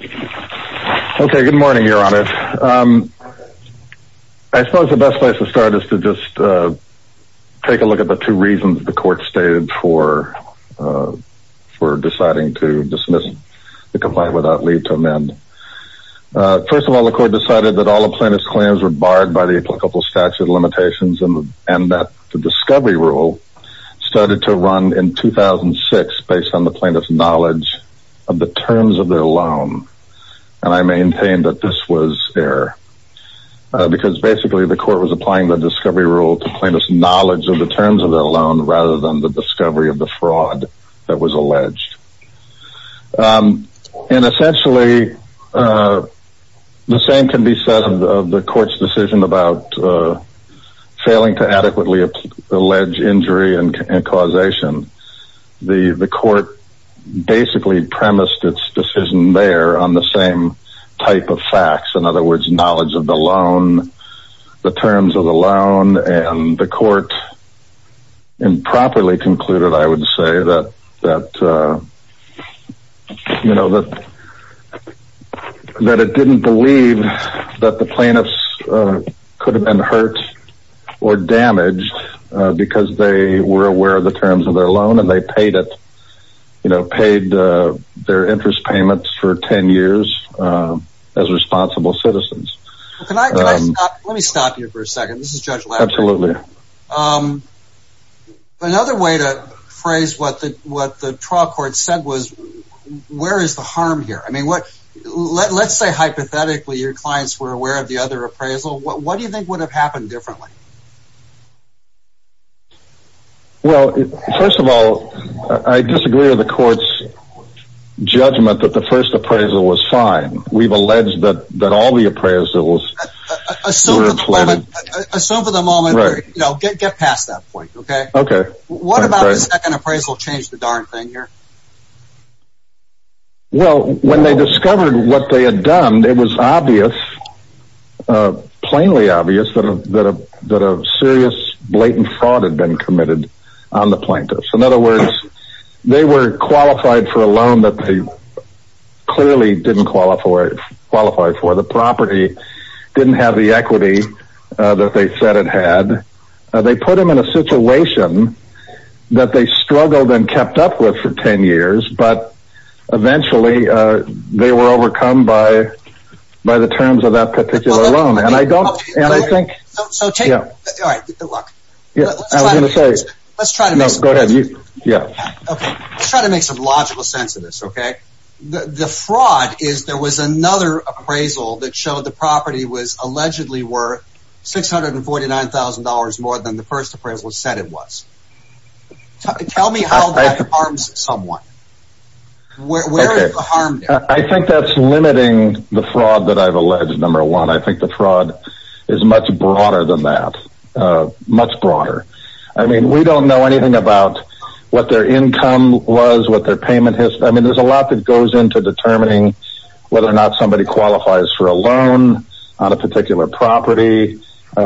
I suppose the best place to start is to just take a look at the two reasons the court stated for deciding to dismiss the complaint without leave to amend. First of all, the court decided that all the plaintiff's claims were barred by the applicable statute of limitations and that the discovery rule started to run in 2006 based on the plaintiff's knowledge of the terms of their loan, and I maintain that this was error, because basically the court was applying the discovery rule to plaintiff's knowledge of the terms of their loan rather than the discovery of the fraud that was alleged. And essentially the same can be said of the court's decision about failing to adequately allege injury and causation. The court basically premised its decision there on the same type of facts, in other words knowledge of the loan, the terms of the loan, and the court improperly concluded I would say that it didn't believe that the plaintiffs could have been hurt or damaged because they were aware of the terms of their loan and they paid their interest payments for ten years as responsible citizens. Let me stop you for a second. Another way to phrase what the trial court said was, where is the harm here? Let's say hypothetically your clients were aware of the other appraisal, what do you Well, first of all, I disagree with the court's judgment that the first appraisal was fine. We've alleged that all the appraisals were a ploy. Assume for the moment, get past that point, okay? Okay. What about the second appraisal changed the darn thing here? Well, when they discovered what they had done, it was obvious, plainly obvious, that a serious blatant fraud had been committed on the plaintiffs. In other words, they were qualified for a loan that they clearly didn't qualify for. The property didn't have the equity that they said it had. They put them in a situation that they struggled and kept up with for ten years, but eventually they were overcome by the terms of that particular loan. And I don't, and I think So take, all right, good luck. I was going to say Let's try to make No, go ahead, you Yeah Okay, let's try to make some logical sense of this, okay? The fraud is there was another appraisal that showed the property was allegedly worth $649,000 more than the first appraisal said it was. Tell me how that harms someone. Where is the harm there? I think that's limiting the fraud that I've alleged, number one. I think the fraud is much broader than that. Much broader. I mean, we don't know anything about what their income was, what their payment history I mean, there's a lot that goes into determining whether or not somebody qualifies for a loan on a particular property.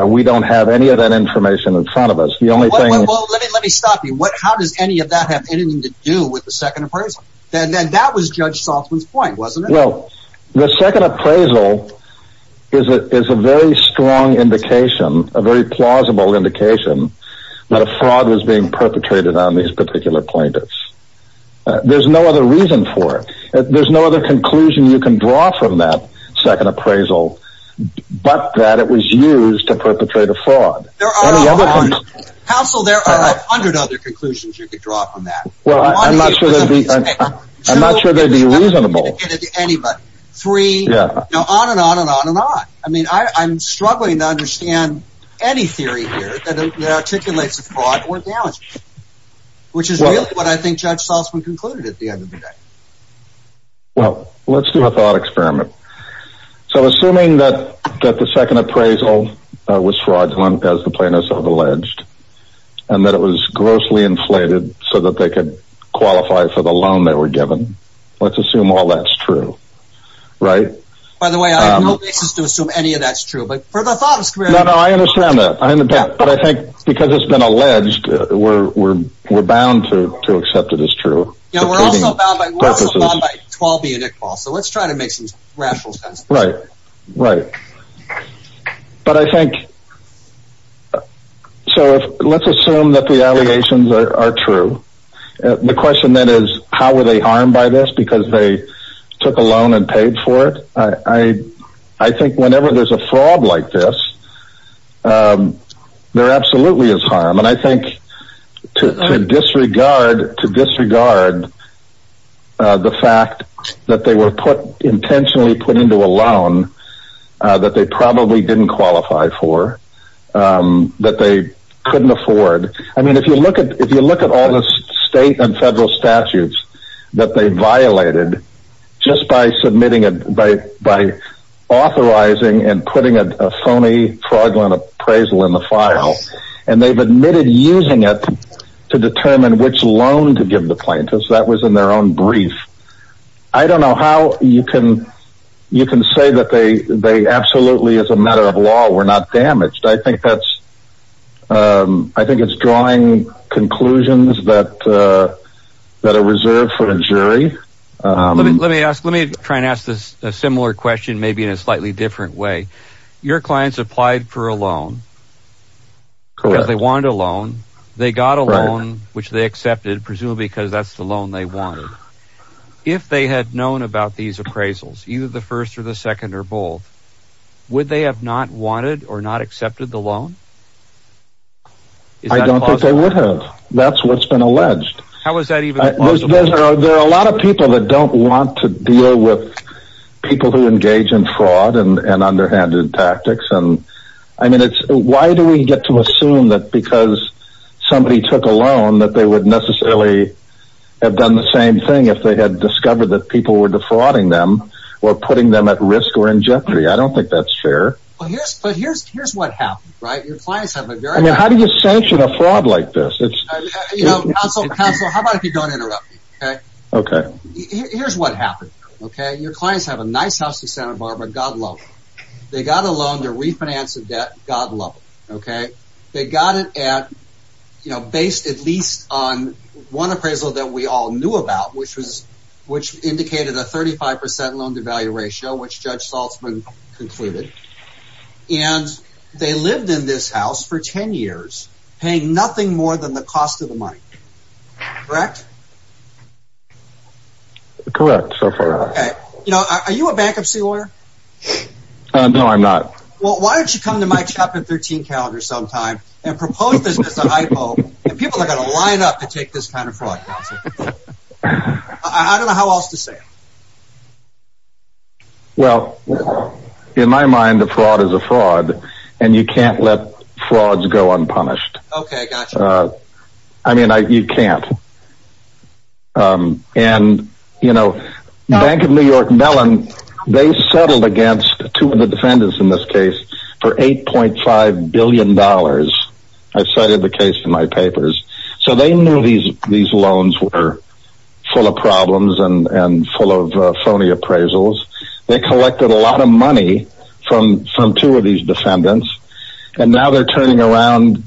We don't have any of that information in front of us. The only thing Well, let me stop you. How does any of that have anything to do with the second appraisal? That was Judge Saltzman's point, wasn't it? Well, the second appraisal is a very strong indication, a very plausible indication that a fraud was being perpetrated on these particular plaintiffs. There's no other reason for it. There's no other conclusion you can draw from that second appraisal, but that it was used to perpetrate a fraud. Counsel, there are a hundred other conclusions you could draw from that. Well, I'm not sure they'd be reasonable. Three, on and on and on and on. I mean, I'm struggling to understand any theory here that articulates a fraud or damage. Which is really what I think Judge Saltzman concluded at the end of the day. Well, let's do a thought experiment. So, assuming that the second appraisal was fraudulent, as the plaintiffs have alleged, and that it was grossly inflated so that they could qualify for the loan they were given, let's assume all that's true, right? By the way, I have no basis to assume any of that's true. No, no, I understand that. But I think because it's been alleged, we're bound to accept it as true. Yeah, we're also bound by 12B and Iqbal, so let's try to make some rational sense of it. Right, right. But I think, so let's assume that the allegations are true. The question then is, how were they harmed by this? Because they took a loan and paid for it? I think whenever there's a fraud like this, there absolutely is harm. And I think to disregard the fact that they were intentionally put into a loan that they probably didn't qualify for, that they couldn't afford. I mean, if you look at all the state and federal statutes that they violated, just by authorizing and putting a phony fraudulent appraisal in the file, and they've admitted using it to determine which loan to give the plaintiffs, that was in their own brief. I don't know how you can say that they absolutely, as a matter of law, were not damaged. I think it's drawing conclusions that are reserved for the jury. Let me try and ask a similar question, maybe in a slightly different way. Your clients applied for a loan because they wanted a loan. They got a loan, which they accepted, presumably because that's the loan they wanted. If they had known about these appraisals, either the first or the second or both, would they have not wanted or not accepted the loan? I don't think they would have. That's what's been alleged. How is that even possible? There are a lot of people that don't want to deal with people who engage in fraud and underhanded tactics. I mean, why do we get to assume that because somebody took a loan that they would necessarily have done the same thing if they had discovered that people were defrauding them or putting them at risk or in jeopardy? I don't think that's fair. Here's what happened. How do you sanction a fraud like this? Counsel, how about if you don't interrupt me? Here's what happened. Your clients have a nice house in Santa Barbara, God love it. They got a loan to refinance a debt, God love it. They got it based at least on one appraisal that we all knew about, which indicated a 35% loan-to-value ratio, which Judge Salzman concluded. And they lived in this house for 10 years, paying nothing more than the cost of the money. Correct? Correct, so far. Are you a bankruptcy lawyer? No, I'm not. Well, why don't you come to my Chapter 13 calendar sometime and propose this as a hypo, and people are going to line up to take this kind of fraud. I don't know how else to say it. Well, in my mind, a fraud is a fraud, and you can't let frauds go unpunished. Okay, gotcha. I mean, you can't. And, you know, Bank of New York Mellon, they settled against two of the defendants in this case for $8.5 billion. I cited the case in my papers. So they knew these loans were full of problems and full of phony appraisals. They collected a lot of money from two of these defendants, and now they're turning around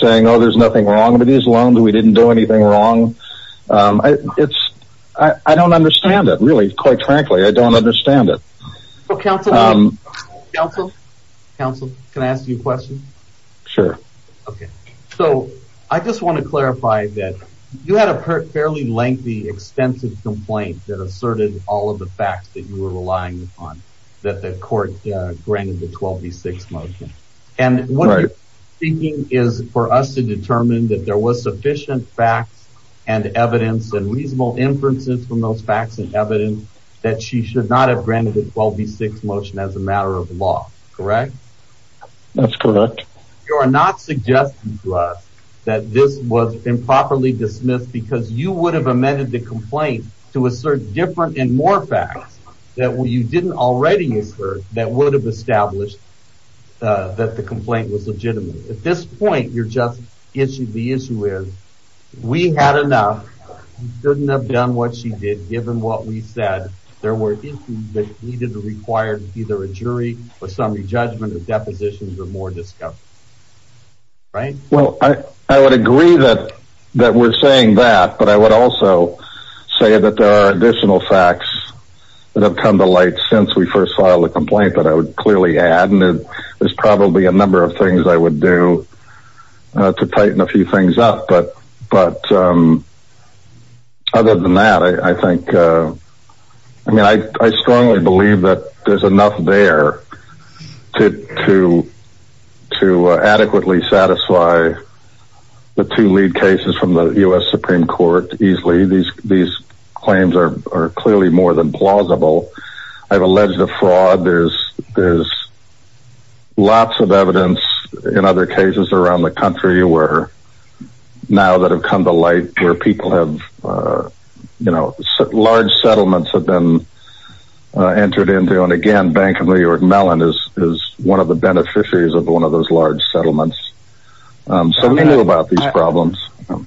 saying, oh, there's nothing wrong with these loans, we didn't do anything wrong. I don't understand it, really, quite frankly. I don't understand it. Counsel? Counsel, can I ask you a question? Sure. Okay, so I just want to clarify that you had a fairly lengthy, extensive complaint that asserted all of the facts that you were relying upon, that the court granted the 12B6 motion. And what you're speaking is for us to determine that there was sufficient facts and evidence and reasonable inferences from those facts and evidence that she should not have granted the 12B6 motion as a matter of law, correct? That's correct. You are not suggesting to us that this was improperly dismissed because you would have amended the complaint to assert different and more facts that you didn't already incur that would have established that the complaint was legitimate. At this point, the issue is we had enough, we shouldn't have done what she did given what we said. There were issues that needed to be required of either a jury or summary judgment, or depositions, or more discovery, right? Well, I would agree that we're saying that, but I would also say that there are additional facts that have come to light since we first filed the complaint that I would clearly add, and there's probably a number of things I would do to tighten a few things up. But other than that, I think, I mean, I strongly believe that there's enough there to adequately satisfy the two lead cases from the U.S. Supreme Court easily. These claims are clearly more than plausible. I've alleged a fraud. There's lots of evidence in other cases around the country where now that have come to light where people have, you know, large settlements have been entered into. And, again, Bank of New York Mellon is one of the beneficiaries of one of those large settlements. So we knew about these problems.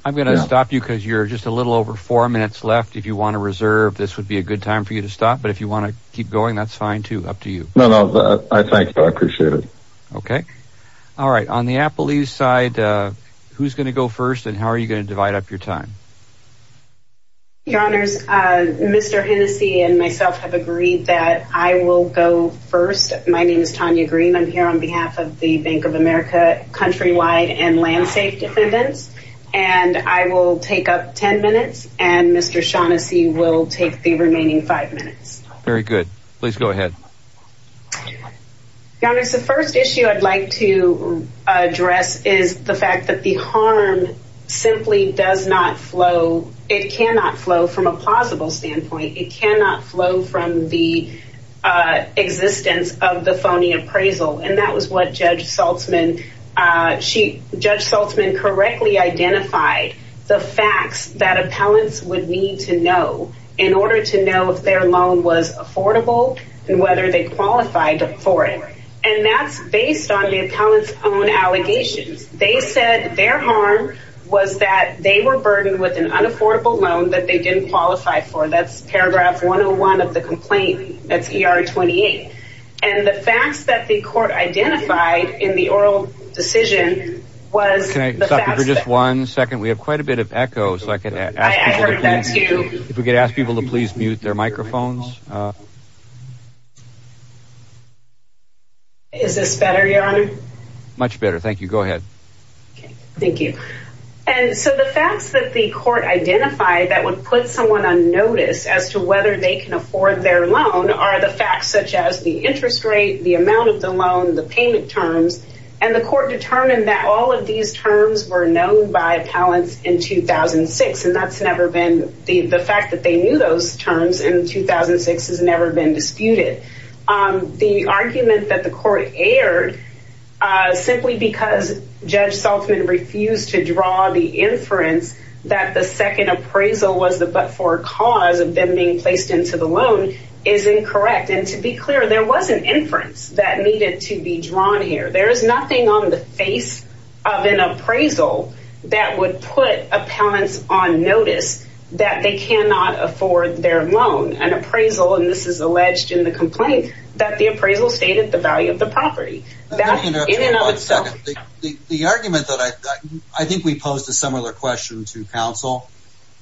I'm going to stop you because you're just a little over four minutes left. If you want to reserve, this would be a good time for you to stop. But if you want to keep going, that's fine, too. Up to you. No, no, I thank you. I appreciate it. Okay. All right. On the Apple East side, who's going to go first, and how are you going to divide up your time? Your Honors, Mr. Hennessy and myself have agreed that I will go first. My name is Tanya Green. I'm here on behalf of the Bank of America Countrywide and Landsafe Defendants. And I will take up ten minutes, and Mr. Shaughnessy will take the remaining five minutes. Very good. Please go ahead. Your Honors, the first issue I'd like to address is the fact that the harm simply does not flow. It cannot flow from a plausible standpoint. It cannot flow from the existence of the phony appraisal. And that was what Judge Saltzman—Judge Saltzman correctly identified the facts that appellants would need to know in order to know if their loan was affordable and whether they qualified for it. And that's based on the appellant's own allegations. They said their harm was that they were burdened with an unaffordable loan that they didn't qualify for. That's paragraph 101 of the complaint. That's ER 28. And the facts that the court identified in the oral decision was— Can I stop you for just one second? We have quite a bit of echoes. I heard that too. If we could ask people to please mute their microphones. Is this better, Your Honor? Much better. Thank you. Go ahead. Thank you. And so the facts that the court identified that would put someone on notice as to whether they can afford their loan are the facts such as the interest rate, the amount of the loan, the payment terms. And the court determined that all of these terms were known by appellants in 2006. And that's never been—the fact that they knew those terms in 2006 has never been disputed. The argument that the court erred simply because Judge Saltzman refused to draw the inference that the second appraisal was the but-for cause of them being placed into the loan is incorrect. And to be clear, there was an inference that needed to be drawn here. There is nothing on the face of an appraisal that would put appellants on notice that they cannot afford their loan. An appraisal—and this is alleged in the complaint—that the appraisal stated the value of the property. That in and of itself— The argument that I—I think we posed a similar question to counsel.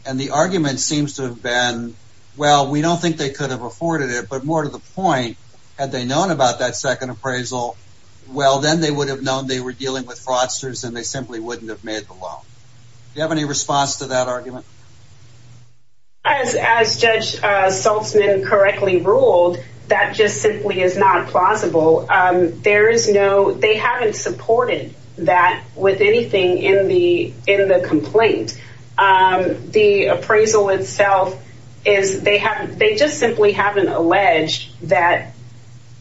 And the argument seems to have been, well, we don't think they could have afforded it. But more to the point, had they known about that second appraisal, well, then they would have known they were dealing with fraudsters and they simply wouldn't have made the loan. Do you have any response to that argument? As Judge Saltzman correctly ruled, that just simply is not plausible. There is no—they haven't supported that with anything in the complaint. The appraisal itself is—they just simply haven't alleged that,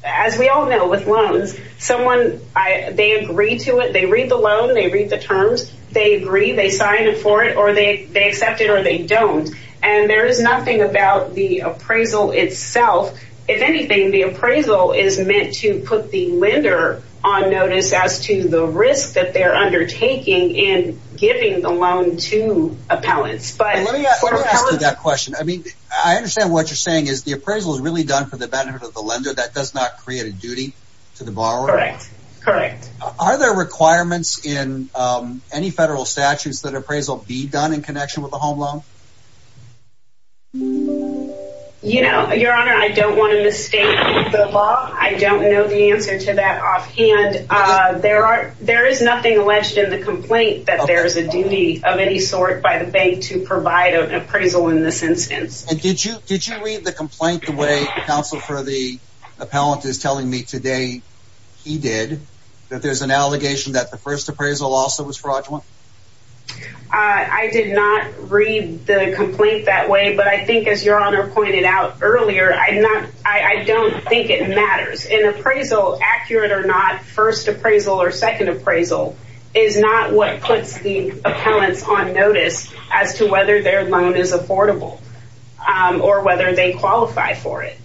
as we all know with loans, someone—they agree to it. They read the loan. They read the terms. They agree. They sign it for it or they accept it or they don't. And there is nothing about the appraisal itself. If anything, the appraisal is meant to put the lender on notice as to the risk that they're undertaking in giving the loan to appellants. But— Let me ask you that question. I mean, I understand what you're saying is the appraisal is really done for the benefit of the lender. That does not create a duty to the borrower. Correct. Correct. Are there requirements in any federal statutes that appraisal be done in connection with a home loan? You know, Your Honor, I don't want to mistake the law. I don't know the answer to that offhand. There is nothing alleged in the complaint that there is a duty of any sort by the bank to provide an appraisal in this instance. And did you read the complaint the way the counsel for the appellant is telling me today he did, that there's an allegation that the first appraisal also was fraudulent? I did not read the complaint that way. But I think, as Your Honor pointed out earlier, I don't think it matters. In appraisal, accurate or not, first appraisal or second appraisal is not what puts the appellants on notice as to whether their loan is affordable or whether they qualify for it.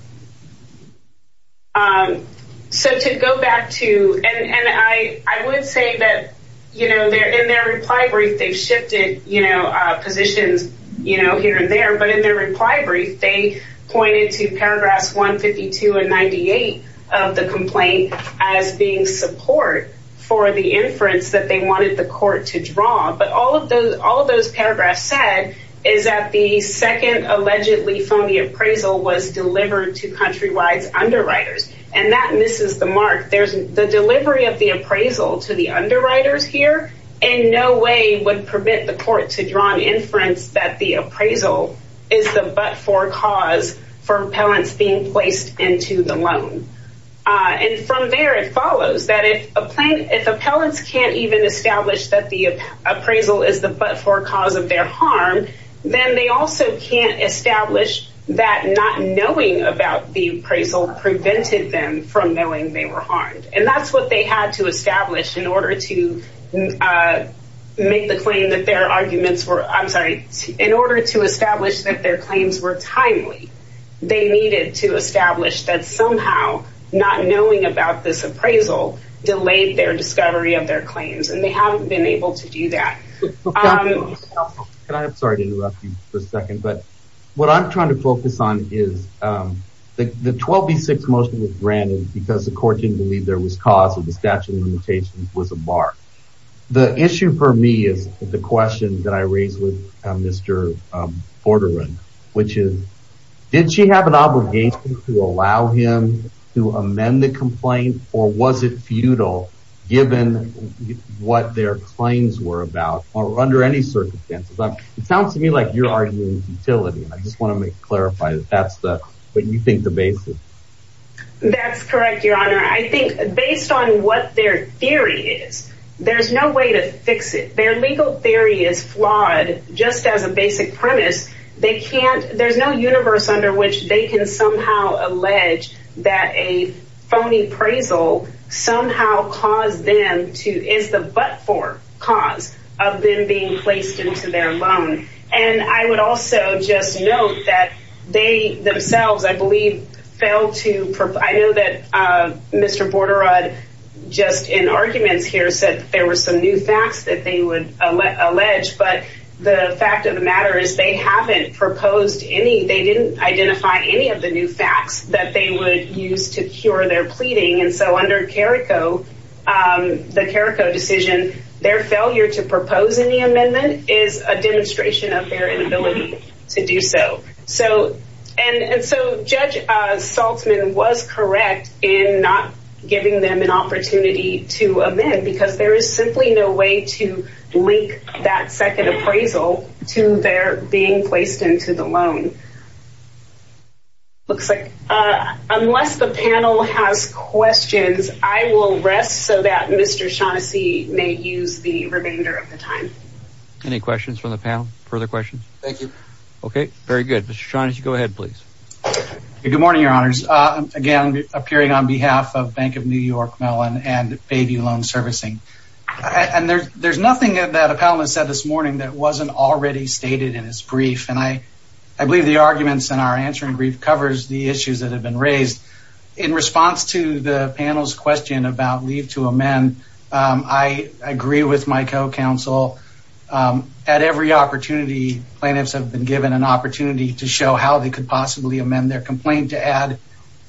So to go back to, and I would say that, you know, in their reply brief, they've shifted positions, you know, here and there. But in their reply brief, they pointed to paragraphs 152 and 98 of the complaint as being support for the inference that they wanted the court to draw. But all of those paragraphs said is that the second allegedly phony appraisal was delivered to Countrywide's underwriters. And that misses the mark. The delivery of the appraisal to the underwriters here in no way would permit the court to draw an inference that the appraisal is the but-for cause for appellants being placed into the loan. And from there, it follows that if appellants can't even establish that the appraisal is the but-for cause of their harm, then they also can't establish that not knowing about the appraisal prevented them from knowing they were harmed. And that's what they had to establish in order to make the claim that their arguments were, I'm sorry, in order to establish that their claims were timely. They needed to establish that somehow not knowing about this appraisal delayed their discovery of their claims. And they haven't been able to do that. I'm sorry to interrupt you for a second, but what I'm trying to focus on is the 12B6 motion was granted because the court didn't believe there was cause of the statute of limitations was a mark. The issue for me is the question that I raised with Mr. Porteran, which is, did she have an obligation to allow him to amend the complaint or was it futile given what their claims were about or under any circumstances? It sounds to me like you're arguing futility. I just want to clarify that that's what you think the basis. That's correct, Your Honor. I think based on what their theory is, there's no way to fix it. Their legal theory is flawed just as a basic premise. There's no universe under which they can somehow allege that a phony appraisal somehow is the but-for cause of them being placed into their loan. And I would also just note that they themselves, I believe, failed to provide. I know that Mr. Porteran, just in arguments here, said there were some new facts that they would allege. But the fact of the matter is they haven't proposed any. They didn't identify any of the new facts that they would use to cure their pleading. And so under CARICO, the CARICO decision, their failure to propose any amendment is a demonstration of their inability to do so. And so Judge Saltzman was correct in not giving them an opportunity to amend because there is simply no way to link that second appraisal to their being placed into the loan. Looks like unless the panel has questions, I will rest so that Mr. Shaughnessy may use the remainder of the time. Any questions from the panel? Further questions? Thank you. Okay. Very good. Mr. Shaughnessy, go ahead, please. Good morning, Your Honors. Again, appearing on behalf of Bank of New York, Mellon, and Baby Loan Servicing. And there's nothing that a panelist said this morning that wasn't already stated in his brief. And I believe the arguments in our answering brief covers the issues that have been raised. In response to the panel's question about leave to amend, I agree with my co-counsel. At every opportunity, plaintiffs have been given an opportunity to show how they could possibly amend their complaint to add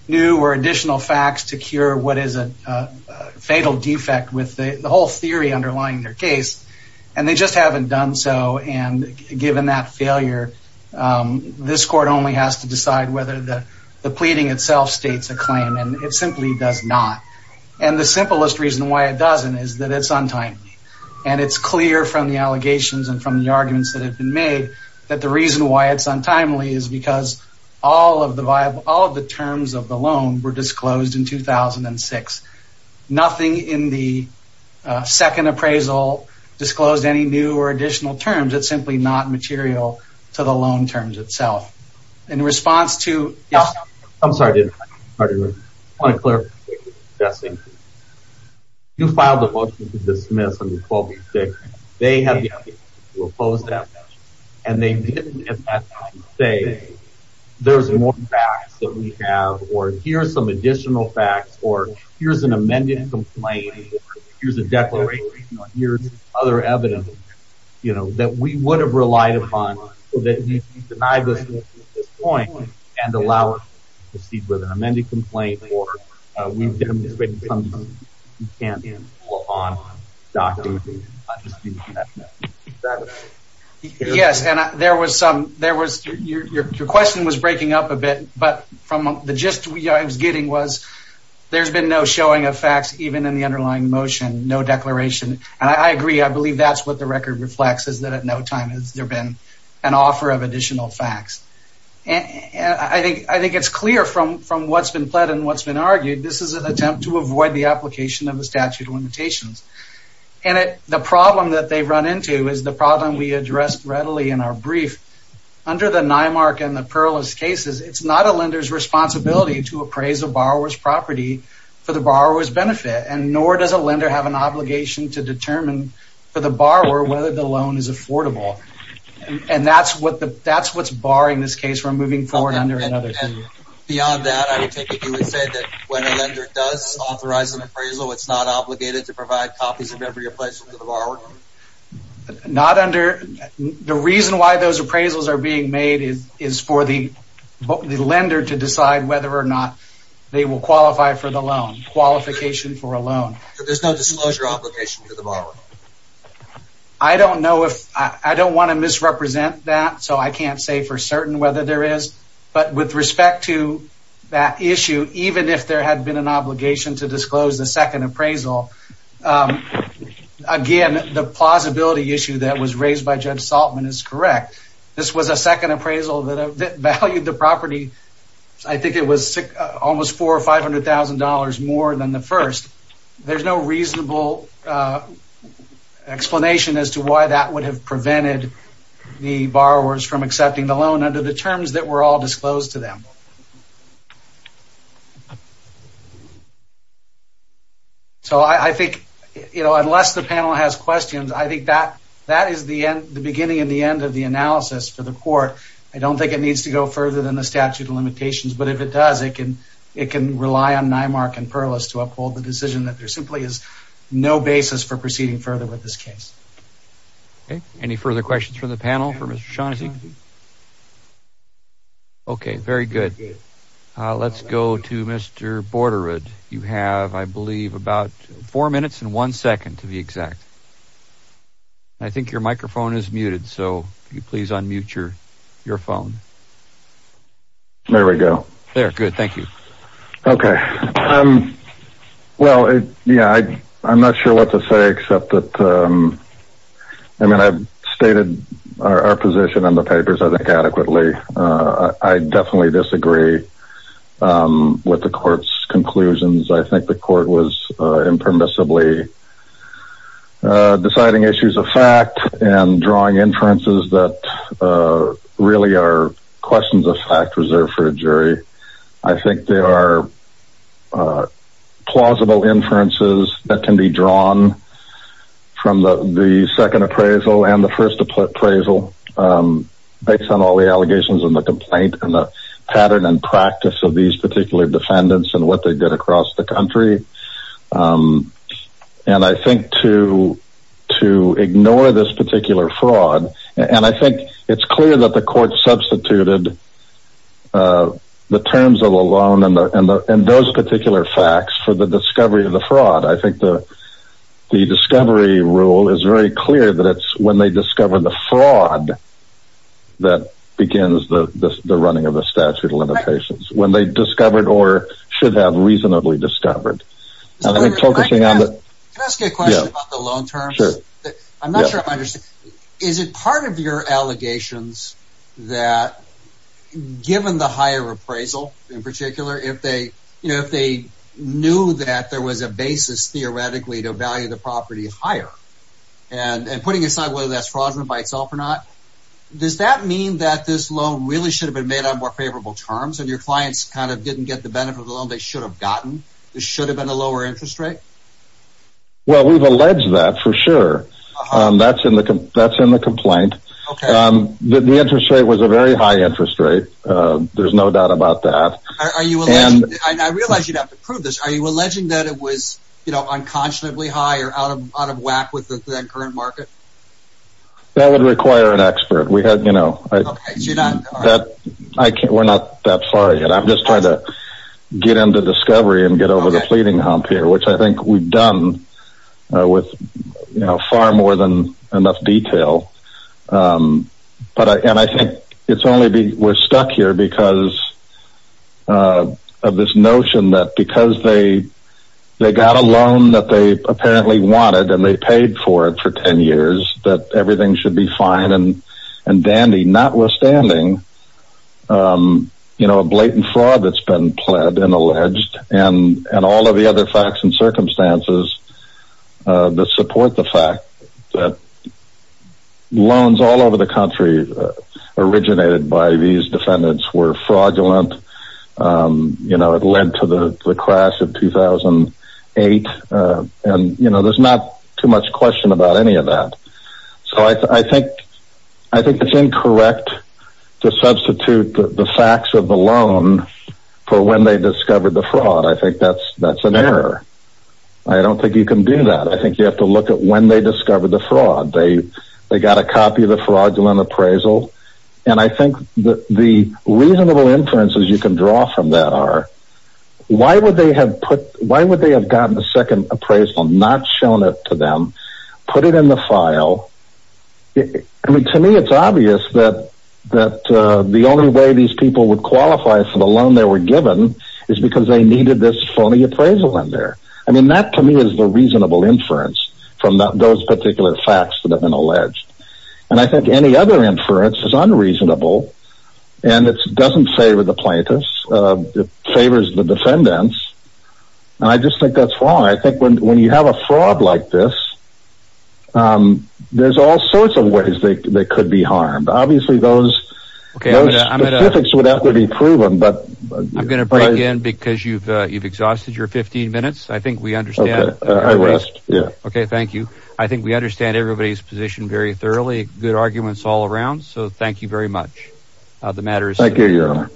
new or additional facts to cure what is a fatal defect with the whole theory underlying their case. And they just haven't done so. And given that failure, this court only has to decide whether the pleading itself states a claim. And it simply does not. And the simplest reason why it doesn't is that it's untimely. And it's clear from the allegations and from the arguments that have been made that the reason why it's untimely is because all of the terms of the loan were disclosed in 2006. Nothing in the second appraisal disclosed any new or additional terms. It's simply not material to the loan terms itself. In response to... I'm sorry. I want to clarify. You filed a motion to dismiss under 1286. They have the opportunity to oppose that. And they didn't at that time say there's more facts that we have or here's some additional facts or here's an amended complaint or here's a declaration or here's other evidence, you know, that we would have relied upon. So that you deny this motion at this point and allow us to proceed with an amended complaint or we've demonstrated something you can't do on documentation. Yes, and there was some... Your question was breaking up a bit. But from the gist I was getting was there's been no showing of facts even in the underlying motion, no declaration. And I agree. I believe that's what the record reflects is that at no time has there been an offer of additional facts. And I think it's clear from what's been pled and what's been argued. This is an attempt to avoid the application of the statute of limitations. And the problem that they've run into is the problem we addressed readily in our brief. Under the NIMARC and the PERLIS cases, it's not a lender's responsibility to appraise a borrower's property for the borrower's benefit. And nor does a lender have an obligation to determine for the borrower whether the loan is affordable. And that's what's barring this case from moving forward under another fee. Beyond that, I would take it you would say that when a lender does authorize an appraisal, it's not obligated to provide copies of every appraisal to the borrower? The reason why those appraisals are being made is for the lender to decide whether or not they will qualify for the loan, qualification for a loan. So there's no disclosure obligation to the borrower? I don't want to misrepresent that, so I can't say for certain whether there is. But with respect to that issue, even if there had been an obligation to disclose the second appraisal, again, the plausibility issue that was raised by Judge Saltman is correct. This was a second appraisal that valued the property, I think it was almost $400,000 or $500,000 more than the first. There's no reasonable explanation as to why that would have prevented the borrowers from accepting the loan under the terms that were all disclosed to them. So I think, you know, unless the panel has questions, I think that is the beginning and the end of the analysis for the court. I don't think it needs to go further than the statute of limitations, but if it does, it can rely on Nymark and Perlis to uphold the decision that there simply is no basis for proceeding further with this case. Any further questions from the panel for Mr. Shaughnessy? Okay, very good. Let's go to Mr. Borderud. You have, I believe, about four minutes and one second to be exact. I think your microphone is muted, so could you please unmute your phone? There we go. There, good, thank you. Okay, well, yeah, I'm not sure what to say except that, I mean, I've stated our position on the papers, I think, adequately. I definitely disagree with the court's conclusions. I think the court was impermissibly deciding issues of fact and drawing inferences that really are questions of fact reserved for a jury. I think there are plausible inferences that can be drawn from the second appraisal and the first appraisal based on all the allegations and the complaint and the pattern and practice of these particular defendants and what they did across the country. And I think to ignore this particular fraud, and I think it's clear that the court substituted the terms of the loan and those particular facts for the discovery of the fraud. I think the discovery rule is very clear that it's when they discover the fraud that begins the running of the statute of limitations, when they discovered or should have reasonably discovered. Can I ask a question about the loan terms? Sure. I'm not sure I understand. Is it part of your allegations that given the higher appraisal in particular, if they knew that there was a basis theoretically to value the property higher and putting aside whether that's fraudulent by itself or not, does that mean that this loan really should have been made on more favorable terms and your clients kind of didn't get the benefit of the loan they should have gotten? This should have been a lower interest rate? Well, we've alleged that for sure. That's in the complaint. Okay. The interest rate was a very high interest rate. There's no doubt about that. I realize you'd have to prove this. Are you alleging that it was unconscionably high or out of whack with the current market? That would require an expert. We're not that far yet. I'm just trying to get into discovery and get over the fleeting hump here, which I think we've done with far more than enough detail. I think we're stuck here because of this notion that because they got a loan that they apparently wanted and they paid for it for ten years that everything should be fine and dandy, notwithstanding, you know, a blatant fraud that's been pled and alleged and all of the other facts and circumstances that support the fact that loans all over the country originated by these defendants were fraudulent. You know, it led to the crash of 2008. And, you know, there's not too much question about any of that. So I think it's incorrect to substitute the facts of the loan for when they discovered the fraud. I think that's an error. I don't think you can do that. I think you have to look at when they discovered the fraud. They got a copy of the fraudulent appraisal. And I think the reasonable inferences you can draw from that are, why would they have gotten a second appraisal, not shown it to them, put it in the file? I mean, to me, it's obvious that the only way these people would qualify for the loan they were given is because they needed this phony appraisal in there. I mean, that to me is the reasonable inference from those particular facts that have been alleged. And I think any other inference is unreasonable. And it doesn't favor the plaintiffs. It favors the defendants. And I just think that's wrong. I think when you have a fraud like this, there's all sorts of ways they could be harmed. Obviously, those specifics would have to be proven. I'm going to break in because you've exhausted your 15 minutes. I think we understand. I rest, yeah. Okay, thank you. I think we understand everybody's position very thoroughly, good arguments all around. So thank you very much. Thank you.